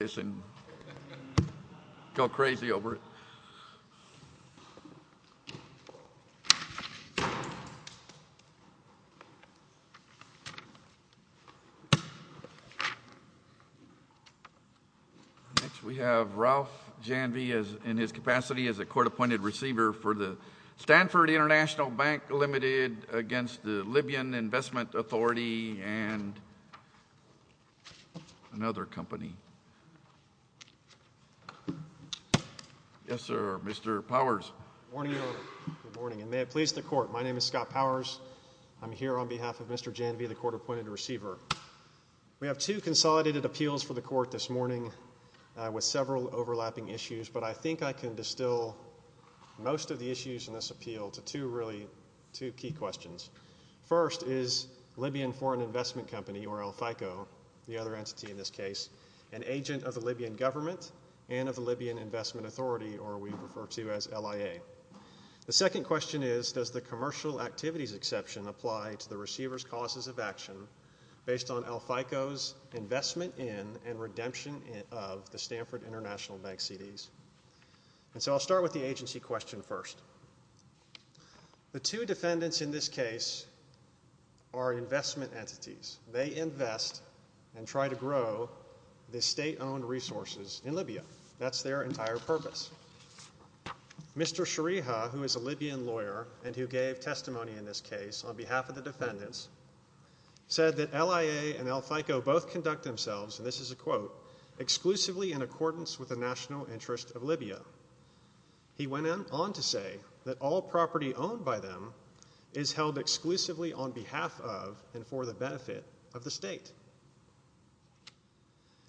Next we have Ralph Janvey in his capacity as a court-appointed receiver for the Stanford Court of Appeals and we have two consolidated appeals for the court this morning with several overlapping issues but I think I can distill most of the issues in this appeal to two really two key questions. First is Libyan Foreign Investment Company or El FICO the other entity in this case an agent of the Libyan government and of the Libyan Investment Authority or we refer to as LIA. The second question is does the commercial activities exception apply to the receiver's causes of action based on El FICO's investment in and redemption of the Stanford International Bank CDs and so I'll start with the agency question first. The two defendants in this case are investment entities they invest and try to grow the state-owned resources in Libya that's their entire purpose. Mr. Shariha who is a Libyan lawyer and who gave testimony in this case on behalf of the defendants said that LIA and El FICO both conduct themselves and this is a quote exclusively in accordance with the national interest of Libya. He went on to say that all exclusively on behalf of and for the benefit of the state.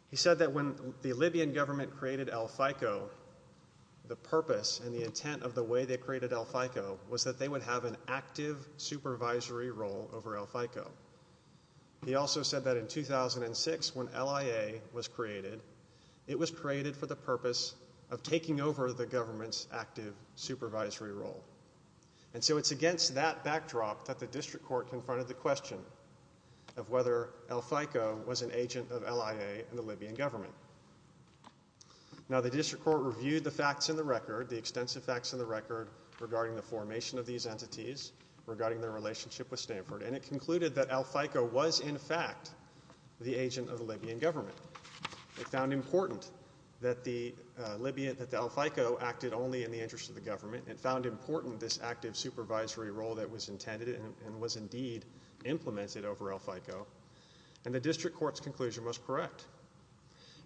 He said that when the Libyan government created El FICO the purpose and the intent of the way they created El FICO was that they would have an active supervisory role over El FICO. He also said that in 2006 when LIA was created it was created for the purpose of taking over the government's active supervisory role and so it's against that backdrop that the district court confronted the question of whether El FICO was an agent of LIA and the Libyan government. Now the district court reviewed the facts in the record the extensive facts in the record regarding the formation of these entities regarding their relationship with Stanford and it concluded that El FICO was in fact the agent of the Libyan government. It found important that the Libyan that the El FICO acted only in the interest of the government. It found important this active supervisory role that was intended and was indeed implemented over El FICO and the district court's conclusion was correct.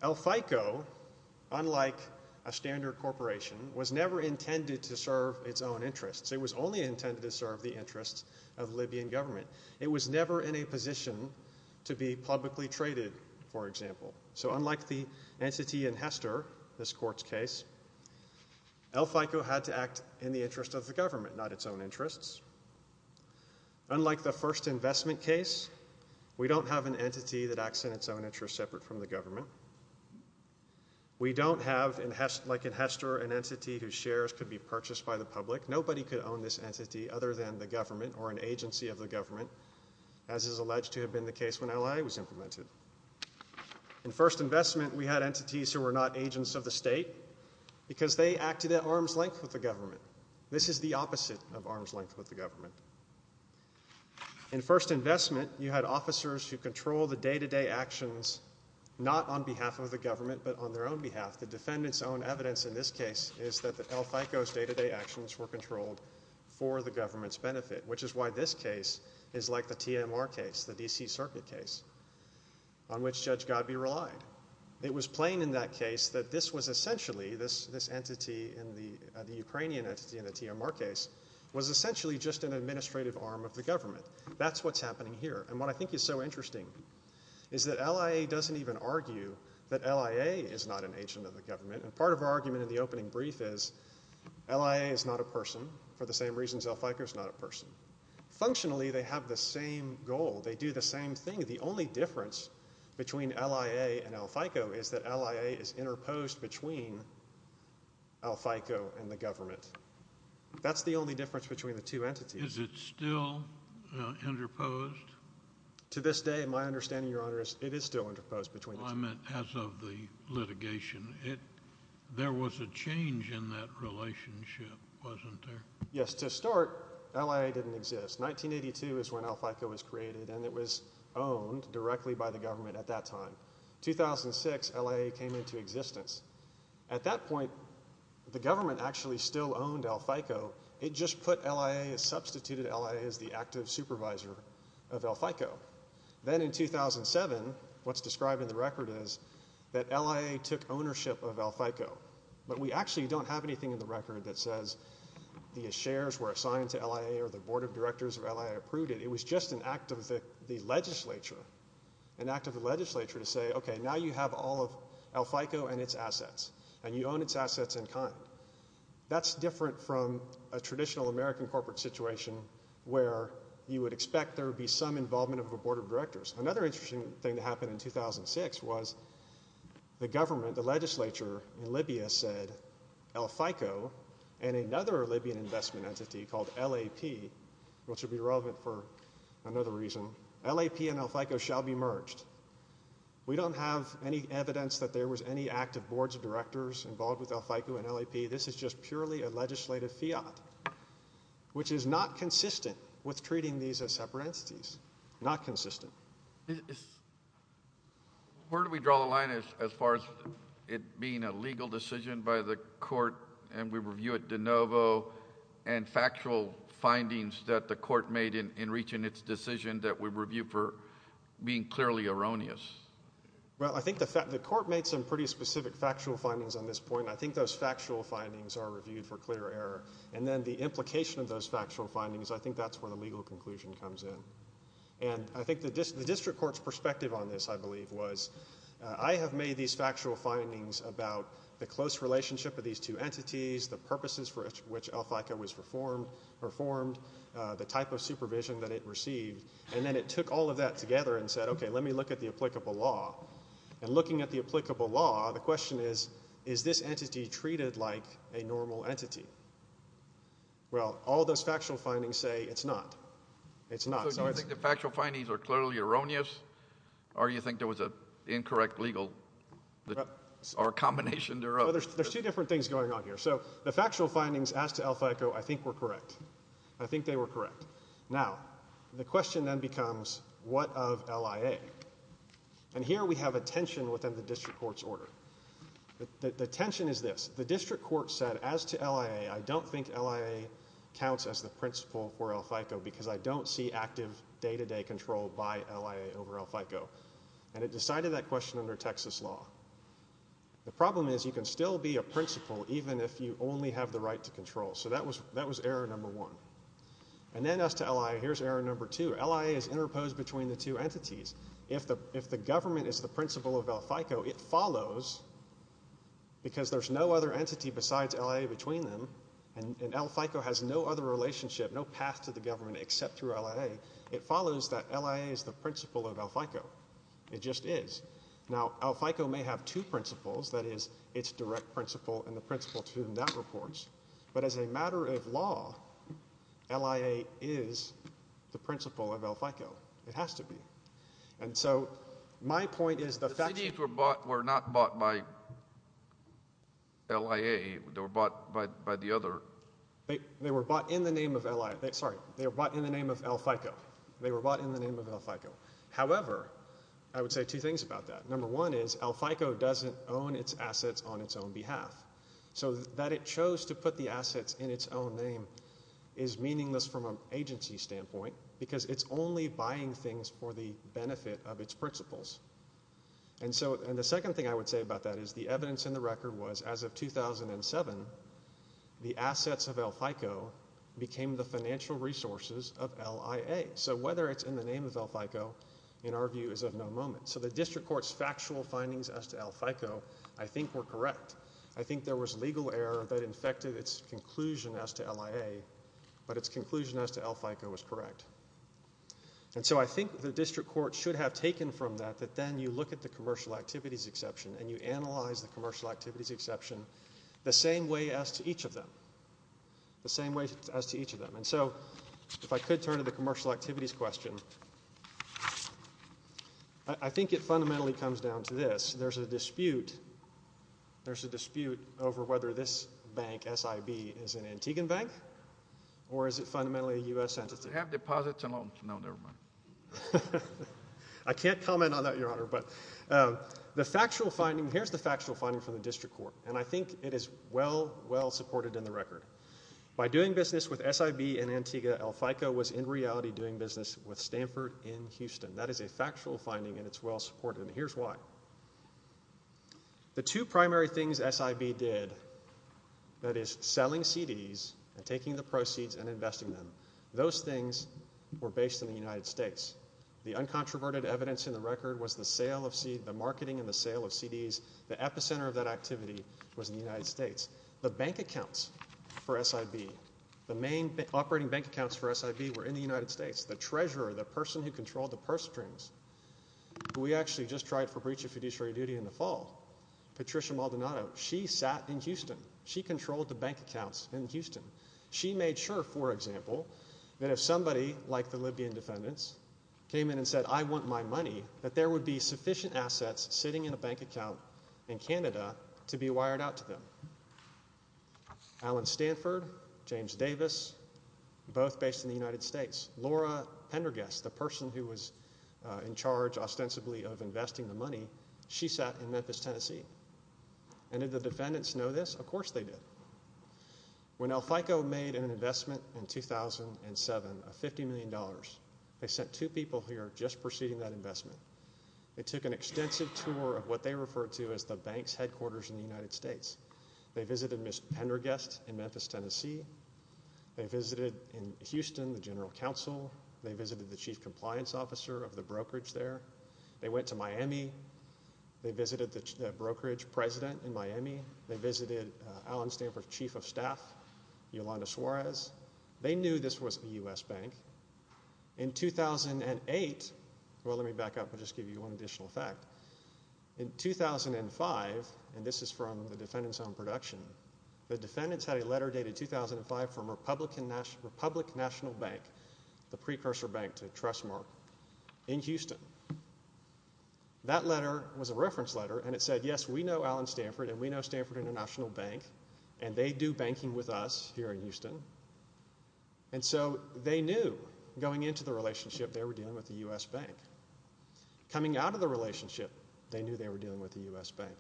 El FICO unlike a standard corporation was never intended to serve its own interests. It was only intended to serve the interests of Libyan government. It was never in a position to be publicly traded for example. So it was intended to act in the interest of the government not its own interests. Unlike the first investment case we don't have an entity that acts in its own interest separate from the government. We don't have like in Hester an entity whose shares could be purchased by the public. Nobody could own this entity other than the government or an agency of the government as is alleged to have been the case when LIA was implemented. In first investment we had entities who were not in arms length with the government. This is the opposite of arms length with the government. In first investment you had officers who control the day-to-day actions not on behalf of the government but on their own behalf. The defendants own evidence in this case is that the El FICO's day-to-day actions were controlled for the government's benefit which is why this case is like the TMR case the DC Circuit case on which Judge Godbee relied. It was plain in that case that this was essentially this entity in the Ukrainian entity in the TMR case was essentially just an administrative arm of the government. That's what's happening here and what I think is so interesting is that LIA doesn't even argue that LIA is not an agent of the government and part of our argument in the opening brief is LIA is not a person for the same reasons El FICO is not a person. Functionally they have the same goal they do the same thing the only difference between LIA and El FICO is that LIA is interposed between El FICO and the government. That's the only difference between the two entities. Is it still interposed? To this day my understanding your honor is it is still interposed. I meant as of the litigation it there was a change in that relationship wasn't there? Yes to start LIA didn't exist. 1982 is when El FICO was created and it was owned directly by the government at that time. 2006 LIA came into existence. At that point the government actually still owned El FICO it just put LIA substituted LIA as the active supervisor of El FICO. Then in 2007 what's described in the record is that LIA took ownership of El FICO but we actually don't have anything in the record that says the shares were assigned to the legislature. An act of the legislature to say okay now you have all of El FICO and its assets and you own its assets in kind. That's different from a traditional American corporate situation where you would expect there would be some involvement of a board of directors. Another interesting thing that happened in 2006 was the government the legislature in Libya said El FICO and another Libyan investment entity called LAP which would be relevant for another reason LAP and El FICO shall be merged. We don't have any evidence that there was any active boards of directors involved with El FICO and LAP this is just purely a legislative fiat which is not consistent with treating these as separate entities not consistent. Where do we draw the as far as it being a legal decision by the court and we review it de novo and factual findings that the court made in reaching its decision that we review for being clearly erroneous? Well I think the fact the court made some pretty specific factual findings on this point. I think those factual findings are reviewed for clear error and then the implication of those factual findings I think that's where the legal conclusion comes in and I think the district court's perspective on this I believe was I have made these factual findings about the close relationship of these two entities the purposes for which El FICO was performed the type of supervision that it received and then it took all of that together and said okay let me look at the applicable law and looking at the applicable law the question is is this entity treated like a normal entity? Well all those factual findings say it's not. So do you think the factual findings are clearly erroneous or do you think there was a incorrect legal or a combination thereof? There's two different things going on here. So the factual findings as to El FICO I think were correct. I think they were correct. Now the question then becomes what of LIA and here we have a tension within the district court's order. The tension is this the district court said as to LIA I don't think LIA counts as the principal for El FICO because I don't see active day-to-day control by LIA over El FICO and it decided that question under Texas law. The problem is you can still be a principal even if you only have the right to control so that was that was error number one and then as to LIA here's error number two. LIA is interposed between the two entities. If the government is the principal of El FICO it follows because there's no other entity besides LIA between them and El FICO has no other relationship no path to the government except through LIA. It follows that LIA is the principal of El FICO. It just is. Now El FICO may have two principals that is its direct principal and the principal to whom that reports but as a matter of law LIA is the principal of El FICO. It has to be and so my point is the fact were not bought by LIA they were bought by by the other. They were bought in the name of LIA sorry they were bought in the name of El FICO. They were bought in the name of El FICO. However I would say two things about that. Number one is El FICO doesn't own its assets on its own behalf so that it chose to put the assets in its own name is meaningless from an agency standpoint because it's only buying things for the benefit of its principals. And so and the second thing I would say about that is the evidence in the record was as of 2007 the assets of El FICO became the financial resources of LIA. So whether it's in the name of El FICO in our view is of no moment. So the district court's factual findings as to El FICO I think were correct. I think there was legal error that infected its conclusion as to LIA but its conclusion as to El FICO was correct. And so I think the district court should have taken from that that then you look at the commercial activities exception and you analyze the commercial activities exception the same way as to each of them. The same way as to each of them. And so if I could turn to the commercial activities question I think it fundamentally comes down to this. There's a dispute there's a dispute over whether this bank S.I.B. is an Antiguan bank or is it fundamentally a U.S. entity. They have deposits and loans. No never mind. I can't comment on that your honor but the factual finding here's the factual finding from the district court and I think it is well well supported in the record. By doing business with S.I.B. and Antigua El FICO was in reality doing business with Stanford in Houston. That is a factual finding and it's well supported and here's why. The two primary things S.I.B. did that is selling CDs and taking the proceeds and investing them those things were based in the United States. The uncontroverted evidence in the record was the sale of seed the marketing and the sale of CDs the epicenter of that activity was in the United States. The bank accounts for S.I.B. the main operating bank accounts for S.I.B. were in the United States. The treasurer the person who controlled the purse strings who we actually just tried for breach of fiduciary duty in the fall Patricia Maldonado she sat in Houston. She controlled the bank accounts in Houston. She made sure for example that if somebody like the Libyan defendants came in and said I want my money that there would be sufficient assets sitting in a bank account in Canada to be wired out to them. Alan Stanford, James Davis both based in the money she sat in Memphis Tennessee and did the defendants know this? Of course they did. When El Fico made an investment in 2007 of 50 million dollars they sent two people here just preceding that investment. They took an extensive tour of what they referred to as the bank's headquarters in the United States. They visited Miss Pendergast in Memphis Tennessee. They visited in Houston the general counsel. They visited the chief compliance officer of the brokerage there. They went to Miami. They visited the brokerage president in Miami. They visited Alan Stanford's chief of staff Yolanda Suarez. They knew this was a U.S. bank. In 2008 well let me back up and just give you one additional fact. In 2005 and this is from the defendants own production the defendants had a letter dated 2005 from Republican National Republic National Bank the precursor bank to that letter was a reference letter and it said yes we know Alan Stanford and we know Stanford International Bank and they do banking with us here in Houston and so they knew going into the relationship they were dealing with the U.S. bank. Coming out of the relationship they knew they were dealing with the U.S. bank.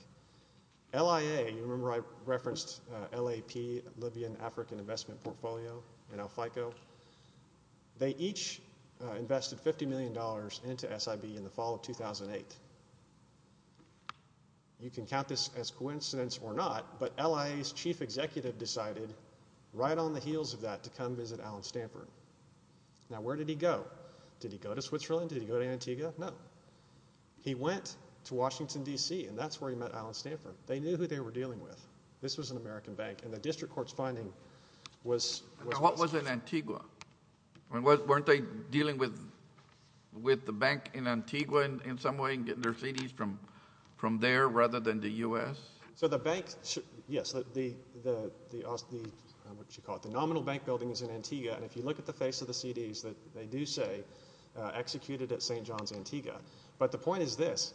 LIA you remember I referenced LAP Libyan African Investment Portfolio in El Fico. They each invested 50 million dollars into SIB in the fall of 2008. You can count this as coincidence or not but LIA's chief executive decided right on the heels of that to come visit Alan Stanford. Now where did he go? Did he go to Switzerland? Did he go to Antigua? No. He went to Washington D.C. and that's where he met Alan Stanford. They knew who they were dealing with. This was an American bank and the district court's was. What was in Antigua? Weren't they dealing with the bank in Antigua in some way and getting their CDs from there rather than the U.S.? So the bank yes the nominal bank building is in Antigua and if you look at the face of the CDs that they do say executed at St. John's Antigua but the point is this.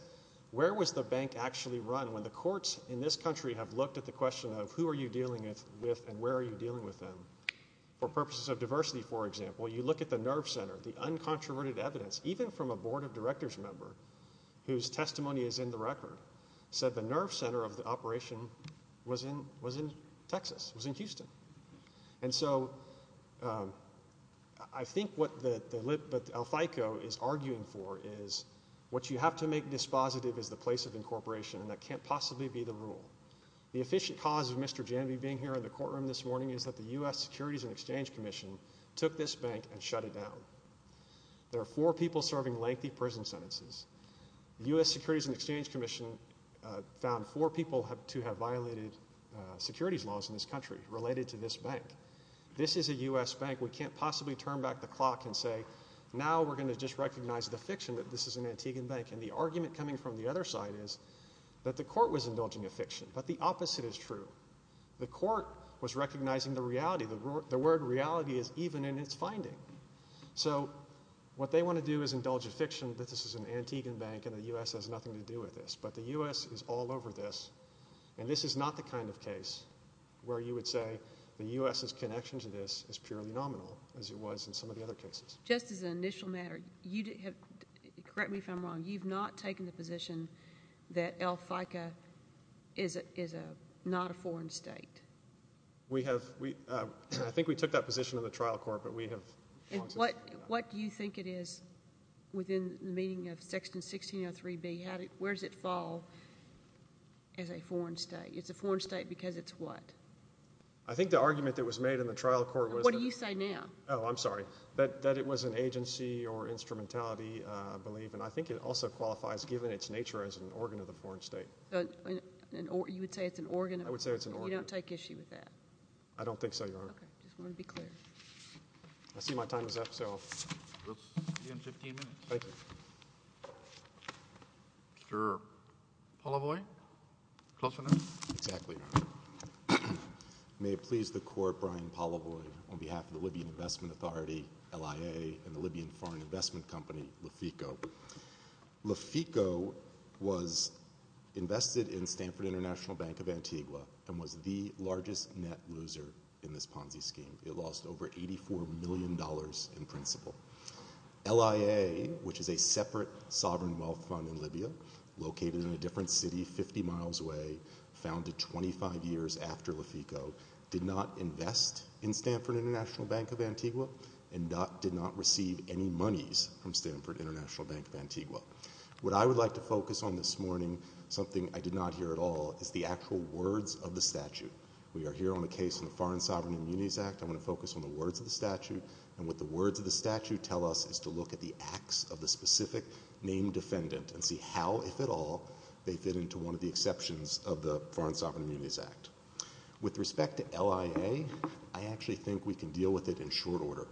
Where was the bank actually run when the courts in this country have looked at the question of who are you dealing with and where are you dealing with them? For purposes of diversity for example you look at the nerve center. The uncontroverted evidence even from a board of directors member whose testimony is in the record said the nerve center of the operation was in Texas, was in Houston. And so I think what El Fico is arguing for is what you have to make dispositive is the place of incorporation and that can't possibly be the rule. The efficient cause of Mr. Janvey being here in the courtroom this morning is that the U.S. Securities and Exchange Commission took this bank and shut it down. There are four people serving lengthy prison sentences. The U.S. Securities and Exchange Commission found four people to have violated securities laws in this country related to this bank. This is a U.S. bank we can't possibly turn back the clock and say now we're going to just recognize the fiction that this is an Antiguan bank. And the argument coming from the other side is that the court was indulging a fiction but the opposite is true. The court was recognizing the reality. The word reality is even in its finding. So what they want to do is indulge a fiction that this is an Antiguan bank and the U.S. has nothing to do with this but the U.S. is all over this and this is not the kind of case where you would say the U.S.'s connection to this is purely nominal as it was in some of the other cases. Just as an aside, you've not taken the position that El Faiqa is not a foreign state. We have. I think we took that position in the trial court but we have. What do you think it is within the meaning of Section 1603B? Where does it fall as a foreign state? It's a foreign state because it's what? I think the argument that was made in the trial court. What do you say now? Oh, I'm sorry. That it was an agency or instrumentality I believe and I think it also qualifies given its nature as an organ of the foreign state. You would say it's an organ? I would say it's an organ. You don't take issue with that? I don't think so, Your Honor. Okay. I just want to be clear. I see my time is up so. We'll see you in 15 minutes. Thank you. Mr. Polavoy? Close for now? Exactly, Your Honor. May it please the Court, Brian Polavoy, on behalf of the Libyan Investment Authority, LIA, and the Libyan Foreign Investment Company, LIFICO. LIFICO was invested in Stanford International Bank of Antigua and was the largest net loser in this Ponzi scheme. It lost over $84 million in principal. LIA, which is a separate sovereign wealth fund in Libya, located in a different city 50 miles away, founded 25 years after LIFICO, did not invest in Stanford International Bank of Antigua and did not receive any monies from Stanford International Bank of Antigua. What I would like to focus on this morning, something I did not hear at all, is the actual words of the statute. We are here on a case in the Foreign Sovereign Immunities Act. I'm going to focus on the words of the statute, and what the words of the statute tell us is to look at the acts of the specific named defendant and see how, if at all, they fit into one of the exceptions of the Foreign Sovereign Immunities Act. With respect to LIA, I actually think we can deal with it in short order.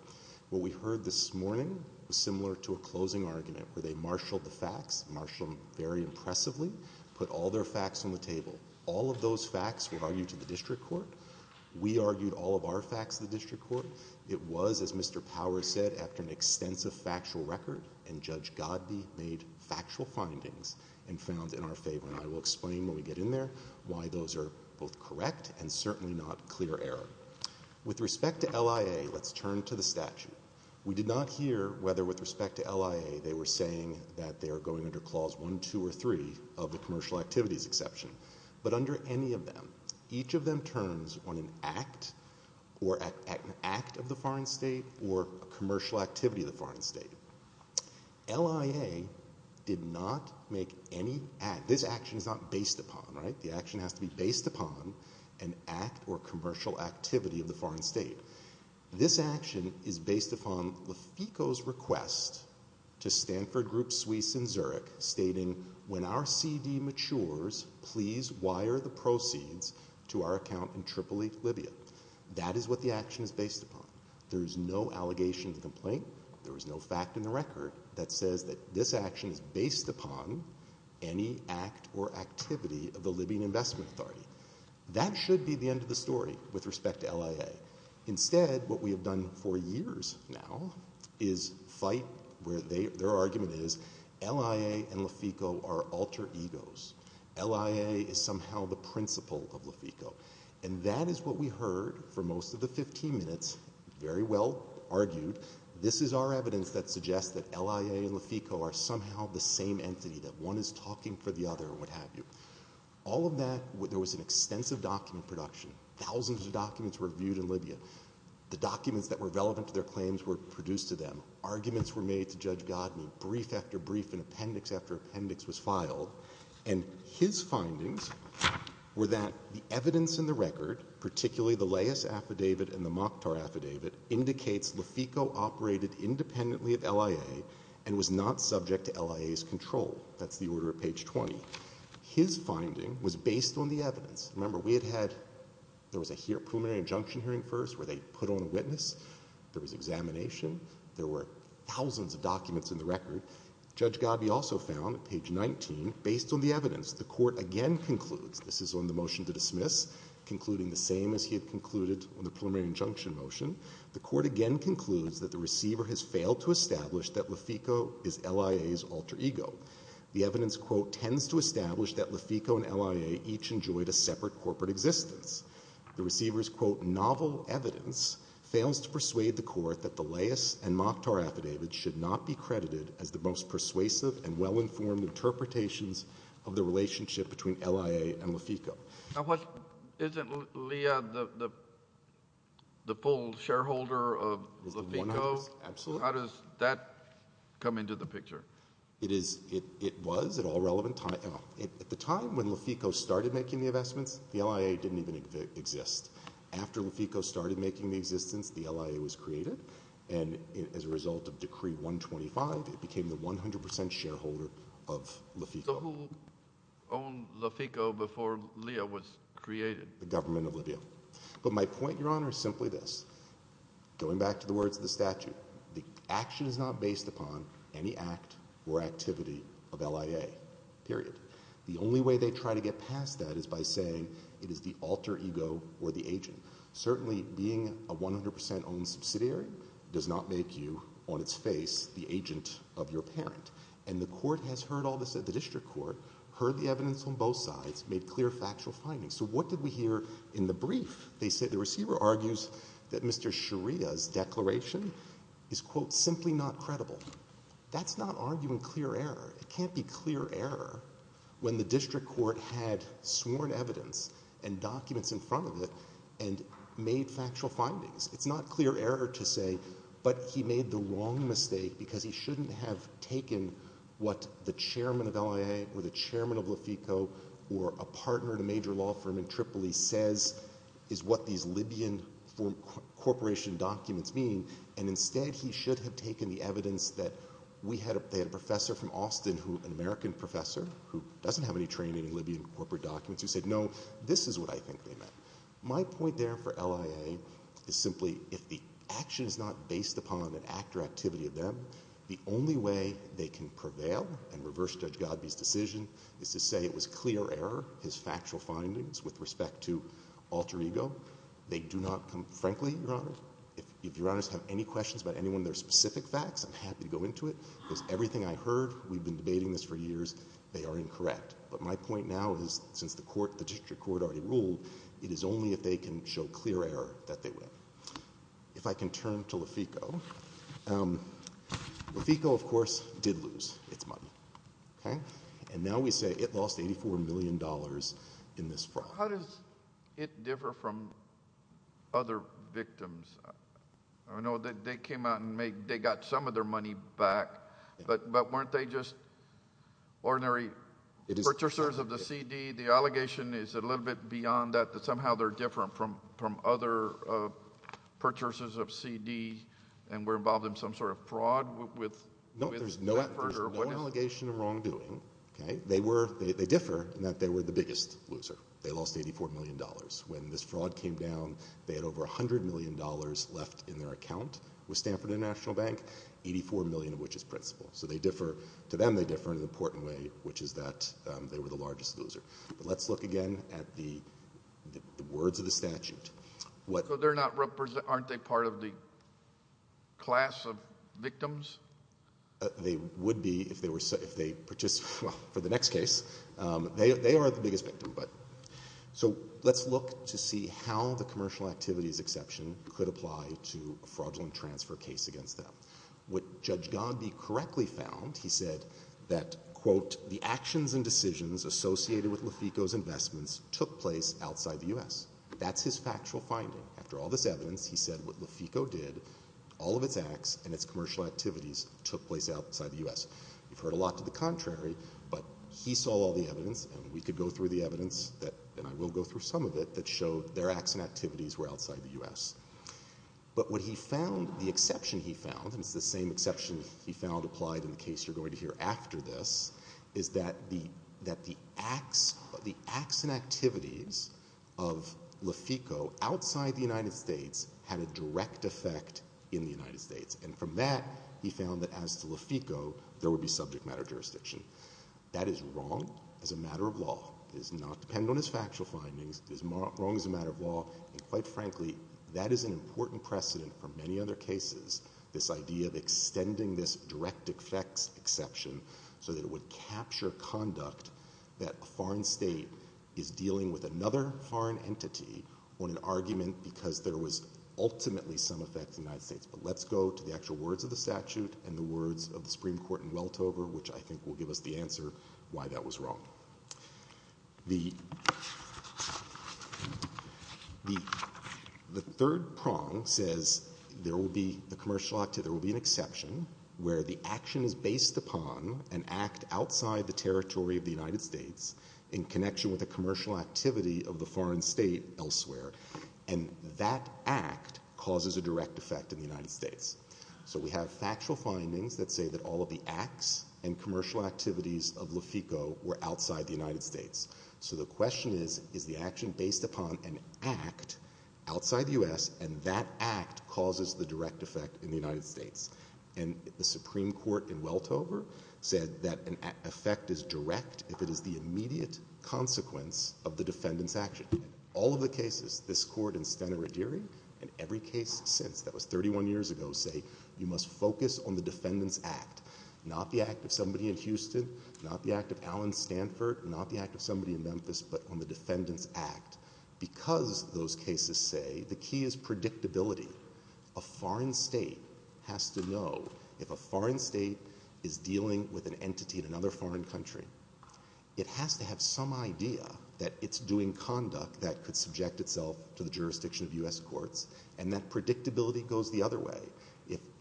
What we heard this morning was similar to a closing argument, where they marshaled the facts, marshaled them very impressively, put all their facts on the table. All of those facts were argued to the district court. We argued all of our facts to the district court. It was, as Mr. Powers said, after an extensive factual record, and Judge Godbee made factual findings and found in our favor. I will explain when we get in there why those are both correct and certainly not clear error. With respect to LIA, let's turn to the statute. We did not hear whether, with respect to LIA, they were saying that they are going under Clause 1, 2, or 3 of the commercial activities exception. But under any of them, each of them turns on an act or an act of the foreign state or a commercial activity of the foreign state. LIA did not make any act. This action is not based upon, right? The action has to be based upon an act or commercial activity of the foreign state. This action is based upon Lefico's request to Stanford Group Suisse in Zurich, stating, when our CD matures, please wire the proceeds to our account in Tripoli, Libya. That is what the action is based upon. There is no allegation of complaint. There is no fact in the record that says that this action is based upon any act or activity of the Libyan Investment Authority. That should be the end of the story with respect to LIA. Instead, what we have done for years now is fight where their argument is LIA and Lefico are alter egos. LIA is somehow the principle of Lefico. And that is what we heard for most of the 15 minutes. Very well argued. This is our evidence that suggests that LIA and Lefico are somehow the same entity, that one is talking for the other and what have you. All of that, there was an extensive document production. Thousands of documents were viewed in Libya. The documents that were relevant to their claims were produced to them. Arguments were made to Judge Godney brief after brief in appendix after appendix was filed. And his affidavit and the Mokhtar affidavit indicates Lefico operated independently of LIA and was not subject to LIA's control. That's the order at page 20. His finding was based on the evidence. Remember, we had had, there was a preliminary injunction hearing first where they put on a witness. There was examination. There were thousands of documents in the record. Judge Godney also found, page 19, based on the evidence, the Court again concludes, this is on the motion to dismiss, concluding the same as he had concluded on the preliminary injunction motion, the Court again concludes that the receiver has failed to establish that Lefico is LIA's alter ego. The evidence, quote, tends to establish that Lefico and LIA each enjoyed a separate corporate existence. The receiver's, quote, novel evidence fails to persuade the Court that the Leyes and Mokhtar affidavits should not be credited as the most persuasive and well-informed interpretations of the relationship between LIA and Lefico. Now what, isn't Leah the the full shareholder of Lefico? Absolutely. How does that come into the picture? It is, it was at all relevant time, at the time when Lefico started making the investments, the LIA didn't even exist. After Lefico started making the existence, the LIA was created and as a result of Decree 125, it became the 100% shareholder of Lefico. So who owned Lefico before Leah was created? The government of Libya. But my point, Your Honor, is simply this. Going back to the words of the statute, the action is not based upon any act or activity of LIA, period. The only way they try to get past that is by saying it is the alter ego or the agent. Certainly being a 100% owned subsidiary does not make you on its face the agent of your parent. And the court has heard all this at the district court, heard the evidence on both sides, made clear factual findings. So what did we hear in the brief? They said the receiver argues that Mr. Sharia's declaration is quote simply not credible. That's not arguing clear error. It can't be clear error when the district court had sworn evidence and documents in front of it and made factual findings. It's not clear error to say, but he made the wrong mistake because he shouldn't have taken what the chairman of LIA or the chairman of Lefico or a partner in a major law firm in Tripoli says is what these Libyan corporation documents mean. And instead he should have taken the evidence that they had a professor from Austin, an American professor who doesn't have any training in Libyan corporate documents who said no, this is what I think they meant. My point there for LIA is simply if the action is not based upon an act or activity of them, the only way they can prevail and reverse Judge Godby's decision is to say it was clear error, his factual findings with respect to alter ego. They do not come, frankly, Your Honor, if Your Honors have any questions about any one of their specific facts, I'm happy to go into it because everything I heard, we've been debating this for years, they are incorrect. But my point now is since the court, the district court already ruled, it is only if they can show clear error that they win. If I can turn to Lefico, Lefico, of course, did lose its money. Okay. And now we say it lost $84 million in this fraud. How does it differ from other victims? I know that they came out and made, they got some of their money back, but weren't they just ordinary purchasers of the CD? The allegation is a little bit beyond that, that somehow they're different from other purchasers of CD and were involved in some sort of fraud with... No, there's no allegation of wrongdoing. Okay. They were, they differ in that they were the biggest loser. They lost $84 million. When this fraud came down, they had over $100 million left in their account with Stanford International Bank, 84 million of which is principal. So they differ, to them, they differ in an important way, which is that they were the largest loser. But let's look again at the words of the statute. So they're not represent, aren't they part of the class of victims? They would be if they were, if they participate, well, for the next case, they are the biggest victim. So let's look to see how the commercial activities exception could apply to a fraudulent transfer case against them. Would Judge Gandhi correctly found? He said that, quote, the actions and decisions associated with Lefico's investments took place outside the U.S. That's his factual finding. After all this evidence, he said what Lefico did, all of its acts and its commercial activities took place outside the U.S. You've heard a lot to the contrary, but he saw all the evidence and we could go through the evidence that, and I will go through some of it, that showed their acts and activities were outside the U.S. But what he found, the exception he found, and it's the same exception he found applied in the case you're going to hear after this, is that the, that the acts, the acts and activities of Lefico outside the United States had a direct effect in the United States. And from that, he found that as to Lefico, there would be subject matter jurisdiction. That is wrong as a matter of factual findings, wrong as a matter of law, and quite frankly, that is an important precedent for many other cases, this idea of extending this direct effects exception so that it would capture conduct that a foreign state is dealing with another foreign entity on an argument because there was ultimately some effect in the United States. But let's go to the actual words of the statute and the words of the Supreme Court in Weltover, which I think will give us the answer why that was wrong. The, the, the third prong says there will be a commercial act, there will be an exception where the action is based upon an act outside the territory of the United States in connection with a commercial activity of the foreign state elsewhere, and that act causes a direct effect in the United States. So we have factual findings that say that all of the acts and commercial activities of Lefico were outside the United States. So the question is, is the action based upon an act outside the U.S. and that act causes the direct effect in the United States? And the Supreme Court in Weltover said that an effect is direct if it is the immediate consequence of the defendant's action. All of the cases, this court and Stenna Ruggieri and every case since, that was 31 years ago, say you must focus on the defendant's act, not the act of somebody in Houston, not the act of Alan Stanford, not the act of somebody in Memphis, but on the defendant's act because those cases say the key is predictability. A foreign state has to know if a foreign state is dealing with an entity in another foreign country, it has to have some idea that it's doing conduct that could subject itself to the jurisdiction of U.S. courts and that predictability goes the other way.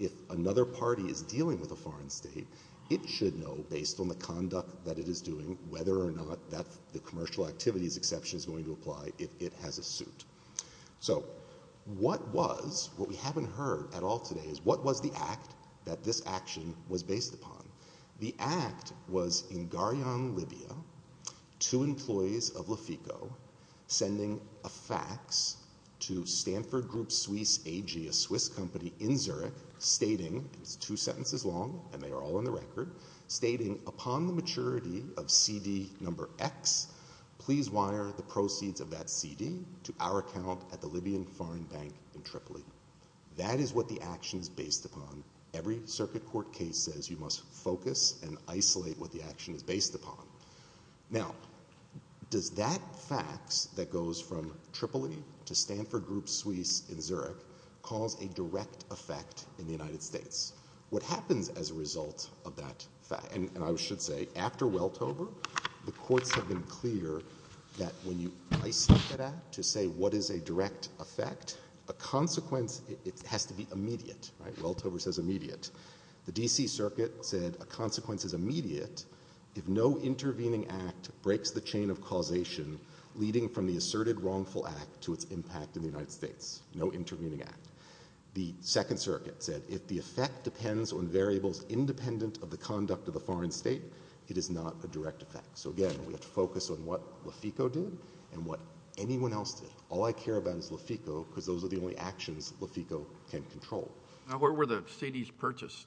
If another party is dealing with a foreign state, it should know based on the conduct that it is doing whether or not the commercial activities exception is going to apply if it has a suit. So what was, what we haven't heard at all today is what was the act that this action was based upon? The act was in Gharian, Libya, two employees of Lefico sending a fax to Stanford Group Swiss AG, a Swiss company in Zurich, stating, it's two sentences long and they are all in the record, stating upon the maturity of CD number X, please wire the proceeds of that CD to our account at the Libyan foreign bank in Tripoli. That is what the action is based upon. Every circuit court case says you must focus and isolate what the action is based upon. Now, does that fax that goes from Tripoli to Stanford Group Swiss in Zurich cause a direct effect in the United States? What happens as a result of that fax, and I should say, after Weltover, the courts have been clear that when you isolate that act to say what is a direct effect, a consequence, it has to be immediate, right? Weltover says immediate. The D.C. circuit said a consequence is immediate if no intervening act breaks the chain of causation leading from the asserted wrongful act to its impact in the United States. No intervening act. The second circuit said if the effect depends on variables independent of the conduct of the foreign state, it is not a direct effect. So again, we have to focus on what Lefico did and what anyone else did. All I care about is Lefico because those are the only actions Lefico can control. Now, where were the CDs purchased?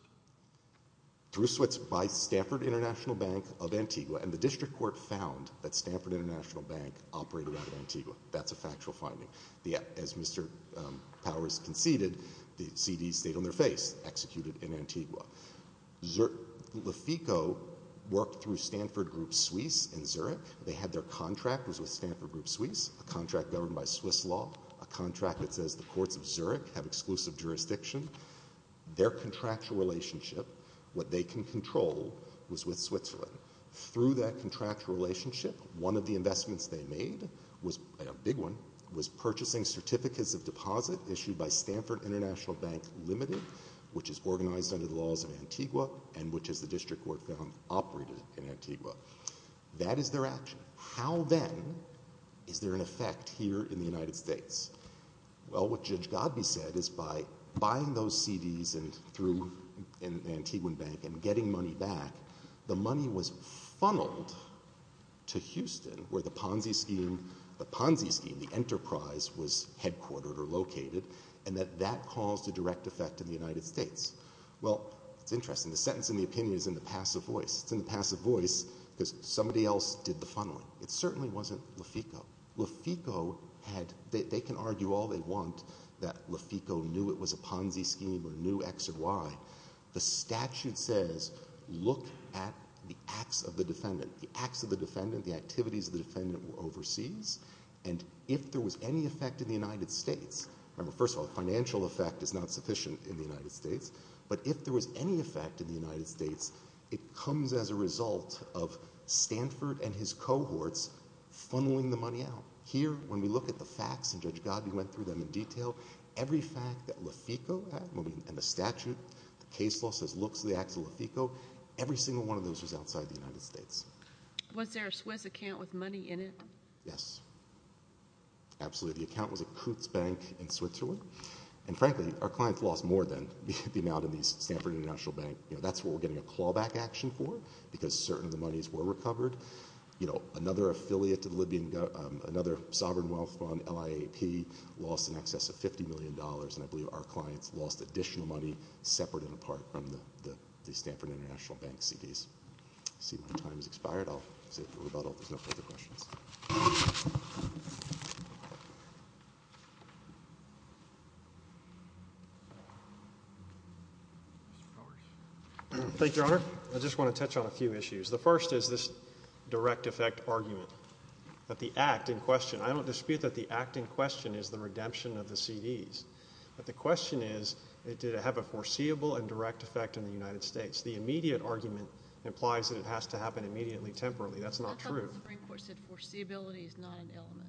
Through Swiss, by Stanford International Bank of Antigua, and the district court found that Stanford International Bank operated out of Antigua. That's a factual finding. As Mr. Powers conceded, the CDs stayed on their face, executed in Antigua. Lefico worked through Stanford Group Swiss in Zurich. They had their contract was with Stanford Group Swiss, a contract governed by Swiss law, a contract that says the courts of Zurich have exclusive jurisdiction. Their contractual relationship, what they can control, was with Switzerland. Through that contractual relationship, one of the investments they made, a big one, was purchasing certificates of deposit issued by Stanford International Bank Limited, which is organized under the laws of Antigua and which is the district court found operated in Antigua. That is their action. How then is there an effect here in the United States? Well, what Judge Godbee said is by buying those CDs through Antiguan Bank and getting money back, the money was funneled to Houston where the Ponzi scheme, the Ponzi scheme, the enterprise was headquartered or located, and that that caused a direct effect in the United States. Well, it's interesting. The sentence in the opinion is in the passive voice. It's in the passive voice because somebody else did the funneling. It certainly wasn't Lefico. Lefico had, they can argue all they want that Lefico knew it was a Ponzi scheme or knew X or Y. The statute says, look at the acts of the defendant. The acts of the defendant, the activities of the defendant were overseas, and if there was any effect in the United States, remember, first of all, the financial effect is not sufficient in the United States, but if there was any effect in the United States, it comes as a result of Stanford and his cohorts funneling the money out. Here, when we look at the facts, and Judge Godbee went through them in detail, every fact that Lefico had, and the statute, the case law says, looks at the acts of Lefico, every single one of those was outside the United States. Was there a Swiss account with money in it? Yes. Absolutely. The account was at Coots Bank in Switzerland, and frankly, our clients lost more than the amount in the Stanford International Bank. That's what we're getting a clawback action for because certain of the monies were recovered. You know, another affiliate to the Libyan, another sovereign wealth fund, LIAP, lost in excess of $50 million, and I believe our clients lost additional money separate and apart from the Stanford International Bank CDs. I see my time has expired. I'll save the rebuttal. There's no further questions. Thank you, Your Honor. I just want to touch on a few issues. The first is this direct effect argument that the act in question, I don't dispute that the act in question is the redemption of the CDs, but the question is, did it have a foreseeable and direct effect in the United States? The immediate argument implies that it has to happen immediately, temporarily. That's not true. The Supreme Court said foreseeability is not an element.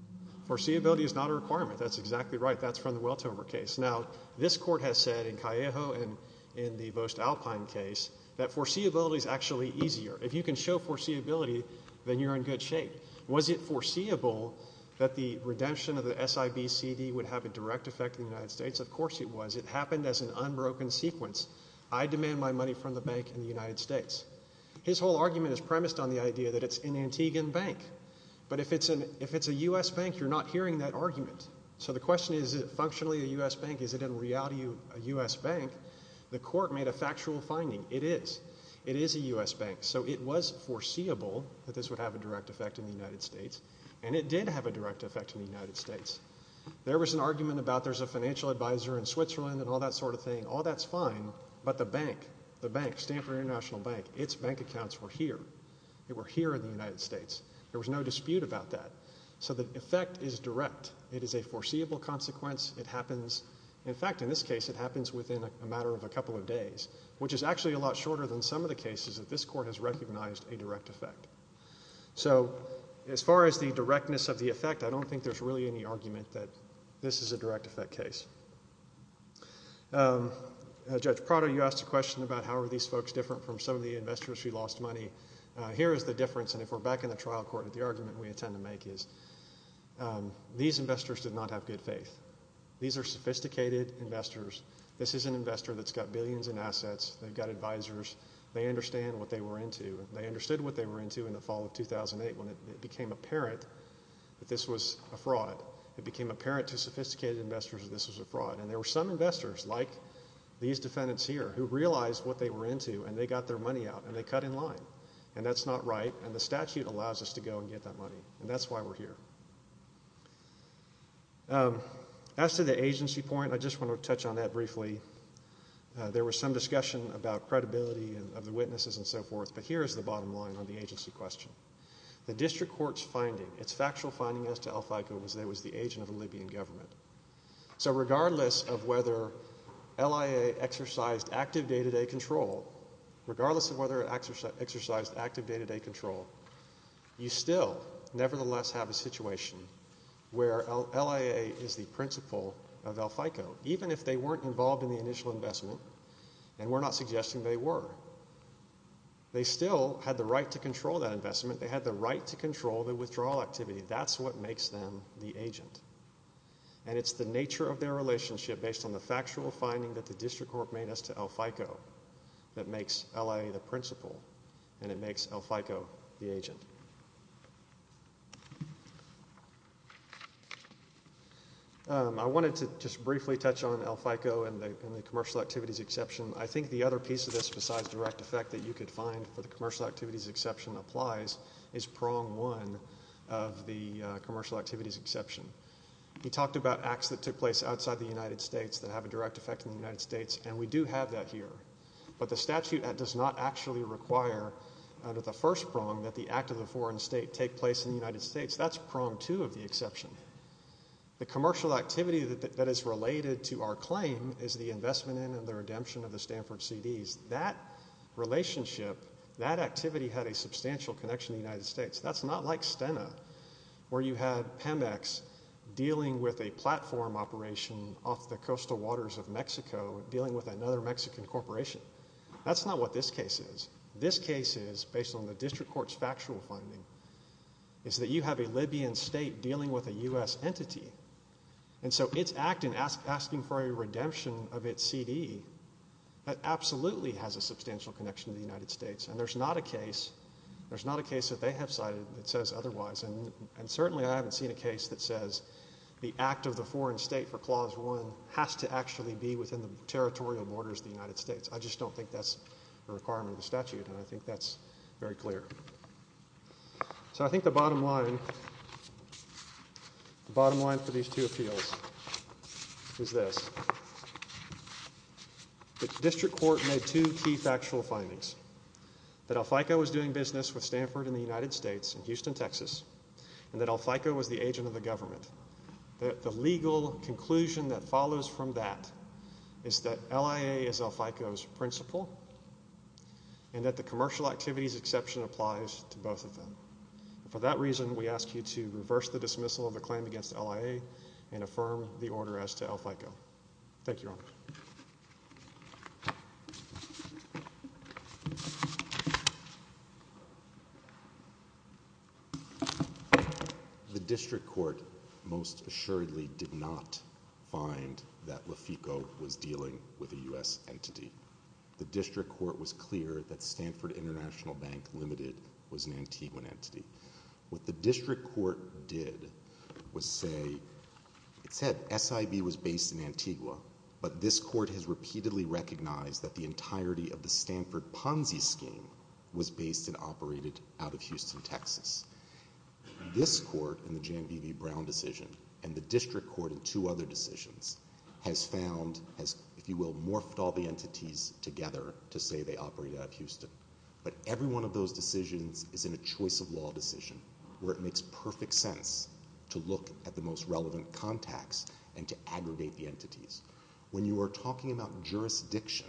Foreseeability is not a requirement. That's exactly right. That's from the Weltover case. Now, this Court has said in Callejo and in the Voest-Alpine case that foreseeability is actually easier. If you can show foreseeability, then you're in good shape. Was it foreseeable that the redemption of the SIB CD would have a direct effect in the United States? Of course it was. It happened as an unbroken sequence. I demand my money from the bank in the United States. His whole argument is premised on the idea that it's an Antiguan bank, but if it's a U.S. bank, you're not hearing that argument. So the question is, is it functionally a U.S. bank? Is it in reality a U.S. bank? The Court made a factual finding. It is. It is a U.S. bank. So it was foreseeable that this would have a direct effect in the United States, and it did have a direct effect in the United States. There was an argument about there's a financial advisor in Switzerland and all that sort of thing. All that's fine, but the bank, the bank, Stanford International Bank, its bank accounts were here. They were here in the United States. There was no dispute about that. So the effect is direct. It is a foreseeable consequence. It happens. In fact, in this case, it happens within a matter of a couple of days, which is actually a lot shorter than some of the cases that this Court has recognized a direct effect. So as far as the directness of the effect, I don't think there's really any argument that this is a direct effect case. Judge Prado, you asked a question about how are these folks different from some of the investors who lost money. Here is the difference, and if we're back in the trial court, the argument we have is these investors did not have good faith. These are sophisticated investors. This is an investor that's got billions in assets. They've got advisors. They understand what they were into, and they understood what they were into in the fall of 2008 when it became apparent that this was a fraud. It became apparent to sophisticated investors that this was a fraud, and there were some investors, like these defendants here, who realized what they were into, and they got their money out, and they cut in line, and that's not right, and the statute allows us to go and get that money, and that's why we're here. As to the agency point, I just want to touch on that briefly. There was some discussion about credibility of the witnesses and so forth, but here is the bottom line on the agency question. The district court's finding, its factual finding as to El Fico was that it was the agent of the Libyan government. So regardless of whether LIA exercised active day-to-day control, regardless of whether it exercised active day-to-day control, you still nevertheless have a situation where LIA is the principal of El Fico, even if they weren't involved in the initial investment, and we're not suggesting they were. They still had the right to control that investment. They had the right to control the withdrawal activity. That's what makes them the agent, and it's the nature of their relationship based on the factual finding that the district court made as to El Fico that makes LIA the agent. I wanted to just briefly touch on El Fico and the commercial activities exception. I think the other piece of this besides direct effect that you could find for the commercial activities exception applies is prong one of the commercial activities exception. He talked about acts that took place outside the United States that have a direct effect in the United States, and we do have that here, but the statute does not actually require under the first prong that the act of the foreign state take place in the United States. That's prong two of the exception. The commercial activity that is related to our claim is the investment in and the redemption of the Stanford CDs. That relationship, that activity had a substantial connection to the United States. That's not like Stena, where you had Pemex dealing with a platform operation off the coastal waters of Mexico dealing with another Mexican corporation. That's not what this case is. This case is based on the district court's factual finding, is that you have a Libyan state dealing with a U.S. entity, and so its act in asking for a redemption of its CD, that absolutely has a substantial connection to the United States, and there's not a case that they have cited that says otherwise, and certainly I haven't seen a case that says the act of the foreign state for clause one has to actually be within the territorial borders of the United States. I just don't think that's a requirement of the statute, and I think that's very clear. So I think the bottom line, the bottom line for these two appeals is this. The district court made two key factual findings, that El Fico was doing business with Stanford in the United States in Houston, Texas, and that El Fico was the agent of the government. The legal conclusion that follows from that is that LIA is El Fico's principal, and that the commercial activities exception applies to both of them. For that reason, we ask you to reverse the dismissal of the claim against LIA and affirm the order as to El Fico. Thank you, Your Honor. The district court most assuredly did not find that El Fico was dealing with a U.S. entity. The district court was clear that Stanford International Bank Limited was an Antigua entity. What the district court did was say, it said SIB was based in Antigua, but this court has repeatedly recognized that the entirety of the Stanford Ponzi scheme was based and operated out of Houston, Texas. This court in the Jan B. Brown decision, and the district court in two other decisions, has found, has, if you will, morphed all the entities together to say they operate out of Houston. But every one of those decisions is in a choice of law decision, where it makes perfect sense to look at the most relevant contacts and aggregate the entities. When you are talking about jurisdiction,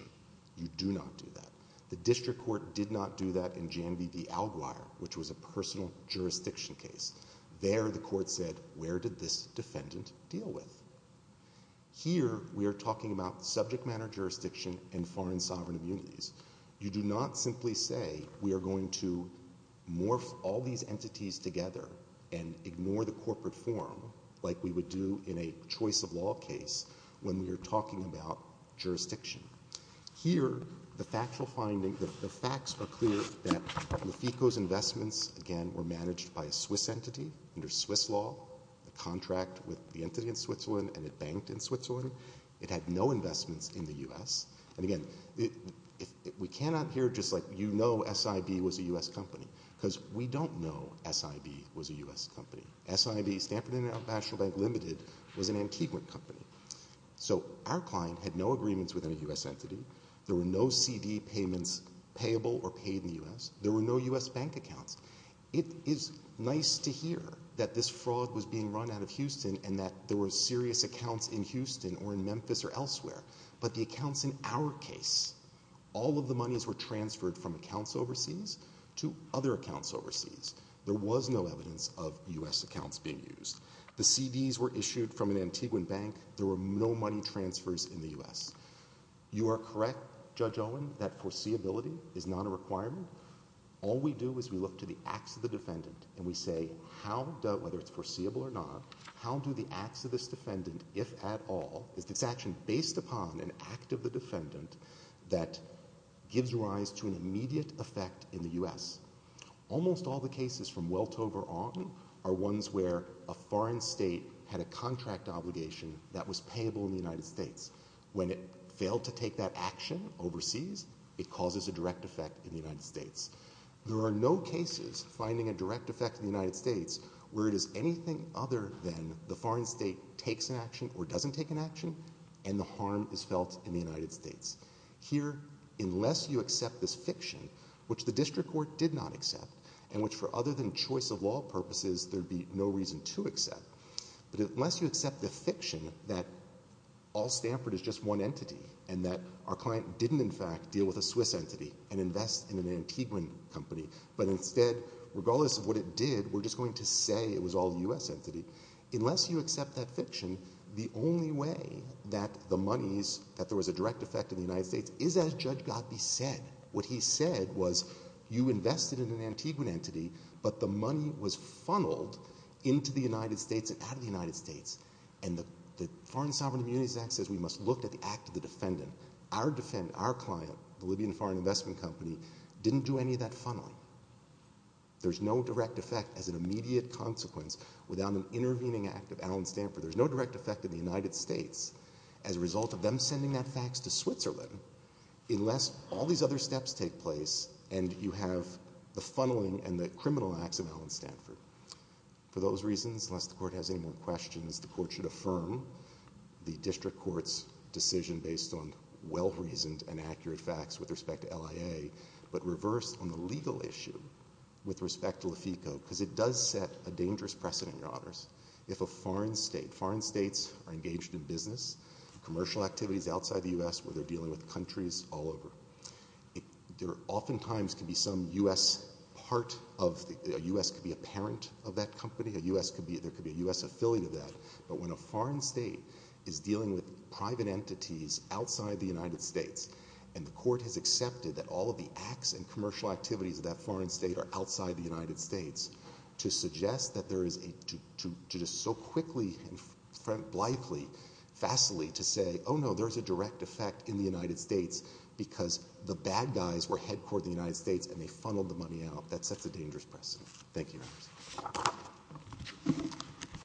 you do not do that. The district court did not do that in Jan B. Alguire, which was a personal jurisdiction case. There, the court said, where did this defendant deal with? Here, we are talking about subject matter jurisdiction and foreign sovereign immunities. You do not simply say we are going to morph all these entities together and ignore the corporate form like we would do in a choice of law case when we are talking about jurisdiction. Here, the factual finding, the facts are clear that Lefico's investments, again, were managed by a Swiss entity under Swiss law, a contract with the entity in Switzerland, and it banked in Switzerland. It had no investments in the U.S. And again, we cannot hear just like you know SIB was a U.S. company, because we do not know SIB was a U.S. company. SIB, Stanford International Bank Limited, was an Antigua company. So our client had no agreements with any U.S. entity. There were no CD payments payable or paid in the U.S. There were no U.S. bank accounts. It is nice to hear that this fraud was being run out of Houston and that there were serious accounts in Houston or in Memphis or in our case, all of the monies were transferred from accounts overseas to other accounts overseas. There was no evidence of U.S. accounts being used. The CDs were issued from an Antiguan bank. There were no money transfers in the U.S. You are correct, Judge Owen, that foreseeability is not a requirement. All we do is we look to the acts of the defendant and we say how, whether it's foreseeable or not, how do the acts of this defendant, if at all, is this action based upon an act of the defendant that gives rise to an immediate effect in the U.S.? Almost all the cases from Weltover on are ones where a foreign state had a contract obligation that was payable in the United States. When it failed to take that action overseas, it causes a direct effect in the United States. There are no cases finding a direct effect in the United States where it is anything other than the foreign state takes an action or doesn't take an action and the harm is felt in the United States. Here, unless you accept this fiction, which the district court did not accept and which for other than choice of law purposes there'd be no reason to accept, but unless you accept the fiction that All Stanford is just one entity and that our client didn't in fact deal with a Swiss entity and invest in an Antiguan company, but instead, regardless of what it did, we're just going to say it was all U.S. entity, unless you accept that fiction, the only way that the monies, that there was a direct effect in the United States is as Judge Gottlieb said. What he said was you invested in an Antiguan entity, but the money was funneled into the United States and out of the United States. And the Foreign Sovereign Immunities Act says we must look at the act of the defendant. Our client, the Libyan Foreign Investment Company, didn't do any of that funneling. There's no direct effect as an immediate consequence without an intervening act of Allen Stanford. There's no direct effect in the United States as a result of them sending that fax to Switzerland unless all these other steps take place and you have the funneling and the criminal acts of Allen Stanford. For those reasons, unless the court has any more questions, the court should affirm the district court's decision based on well-reasoned and accurate facts with respect to LIA, but reverse on the legal issue with respect to LAFICO because it does set a dangerous precedent, Your Honors, if a foreign state, foreign states are engaged in business, commercial activities outside the U.S. where they're dealing with countries all over. There oftentimes can be some U.S. part of the, a U.S. could be a parent of that company, a U.S. could be, there could be a U.S. affiliate of that, but when a foreign state is dealing with a U.S. affiliate, the court has accepted that all of the acts and commercial activities of that foreign state are outside the United States to suggest that there is a, to just so quickly and blithely, fastly to say, oh no, there's a direct effect in the United States because the bad guys were headquartered in the United States and they funneled the money out. That sets a dangerous precedent. Thank you, Your Honors.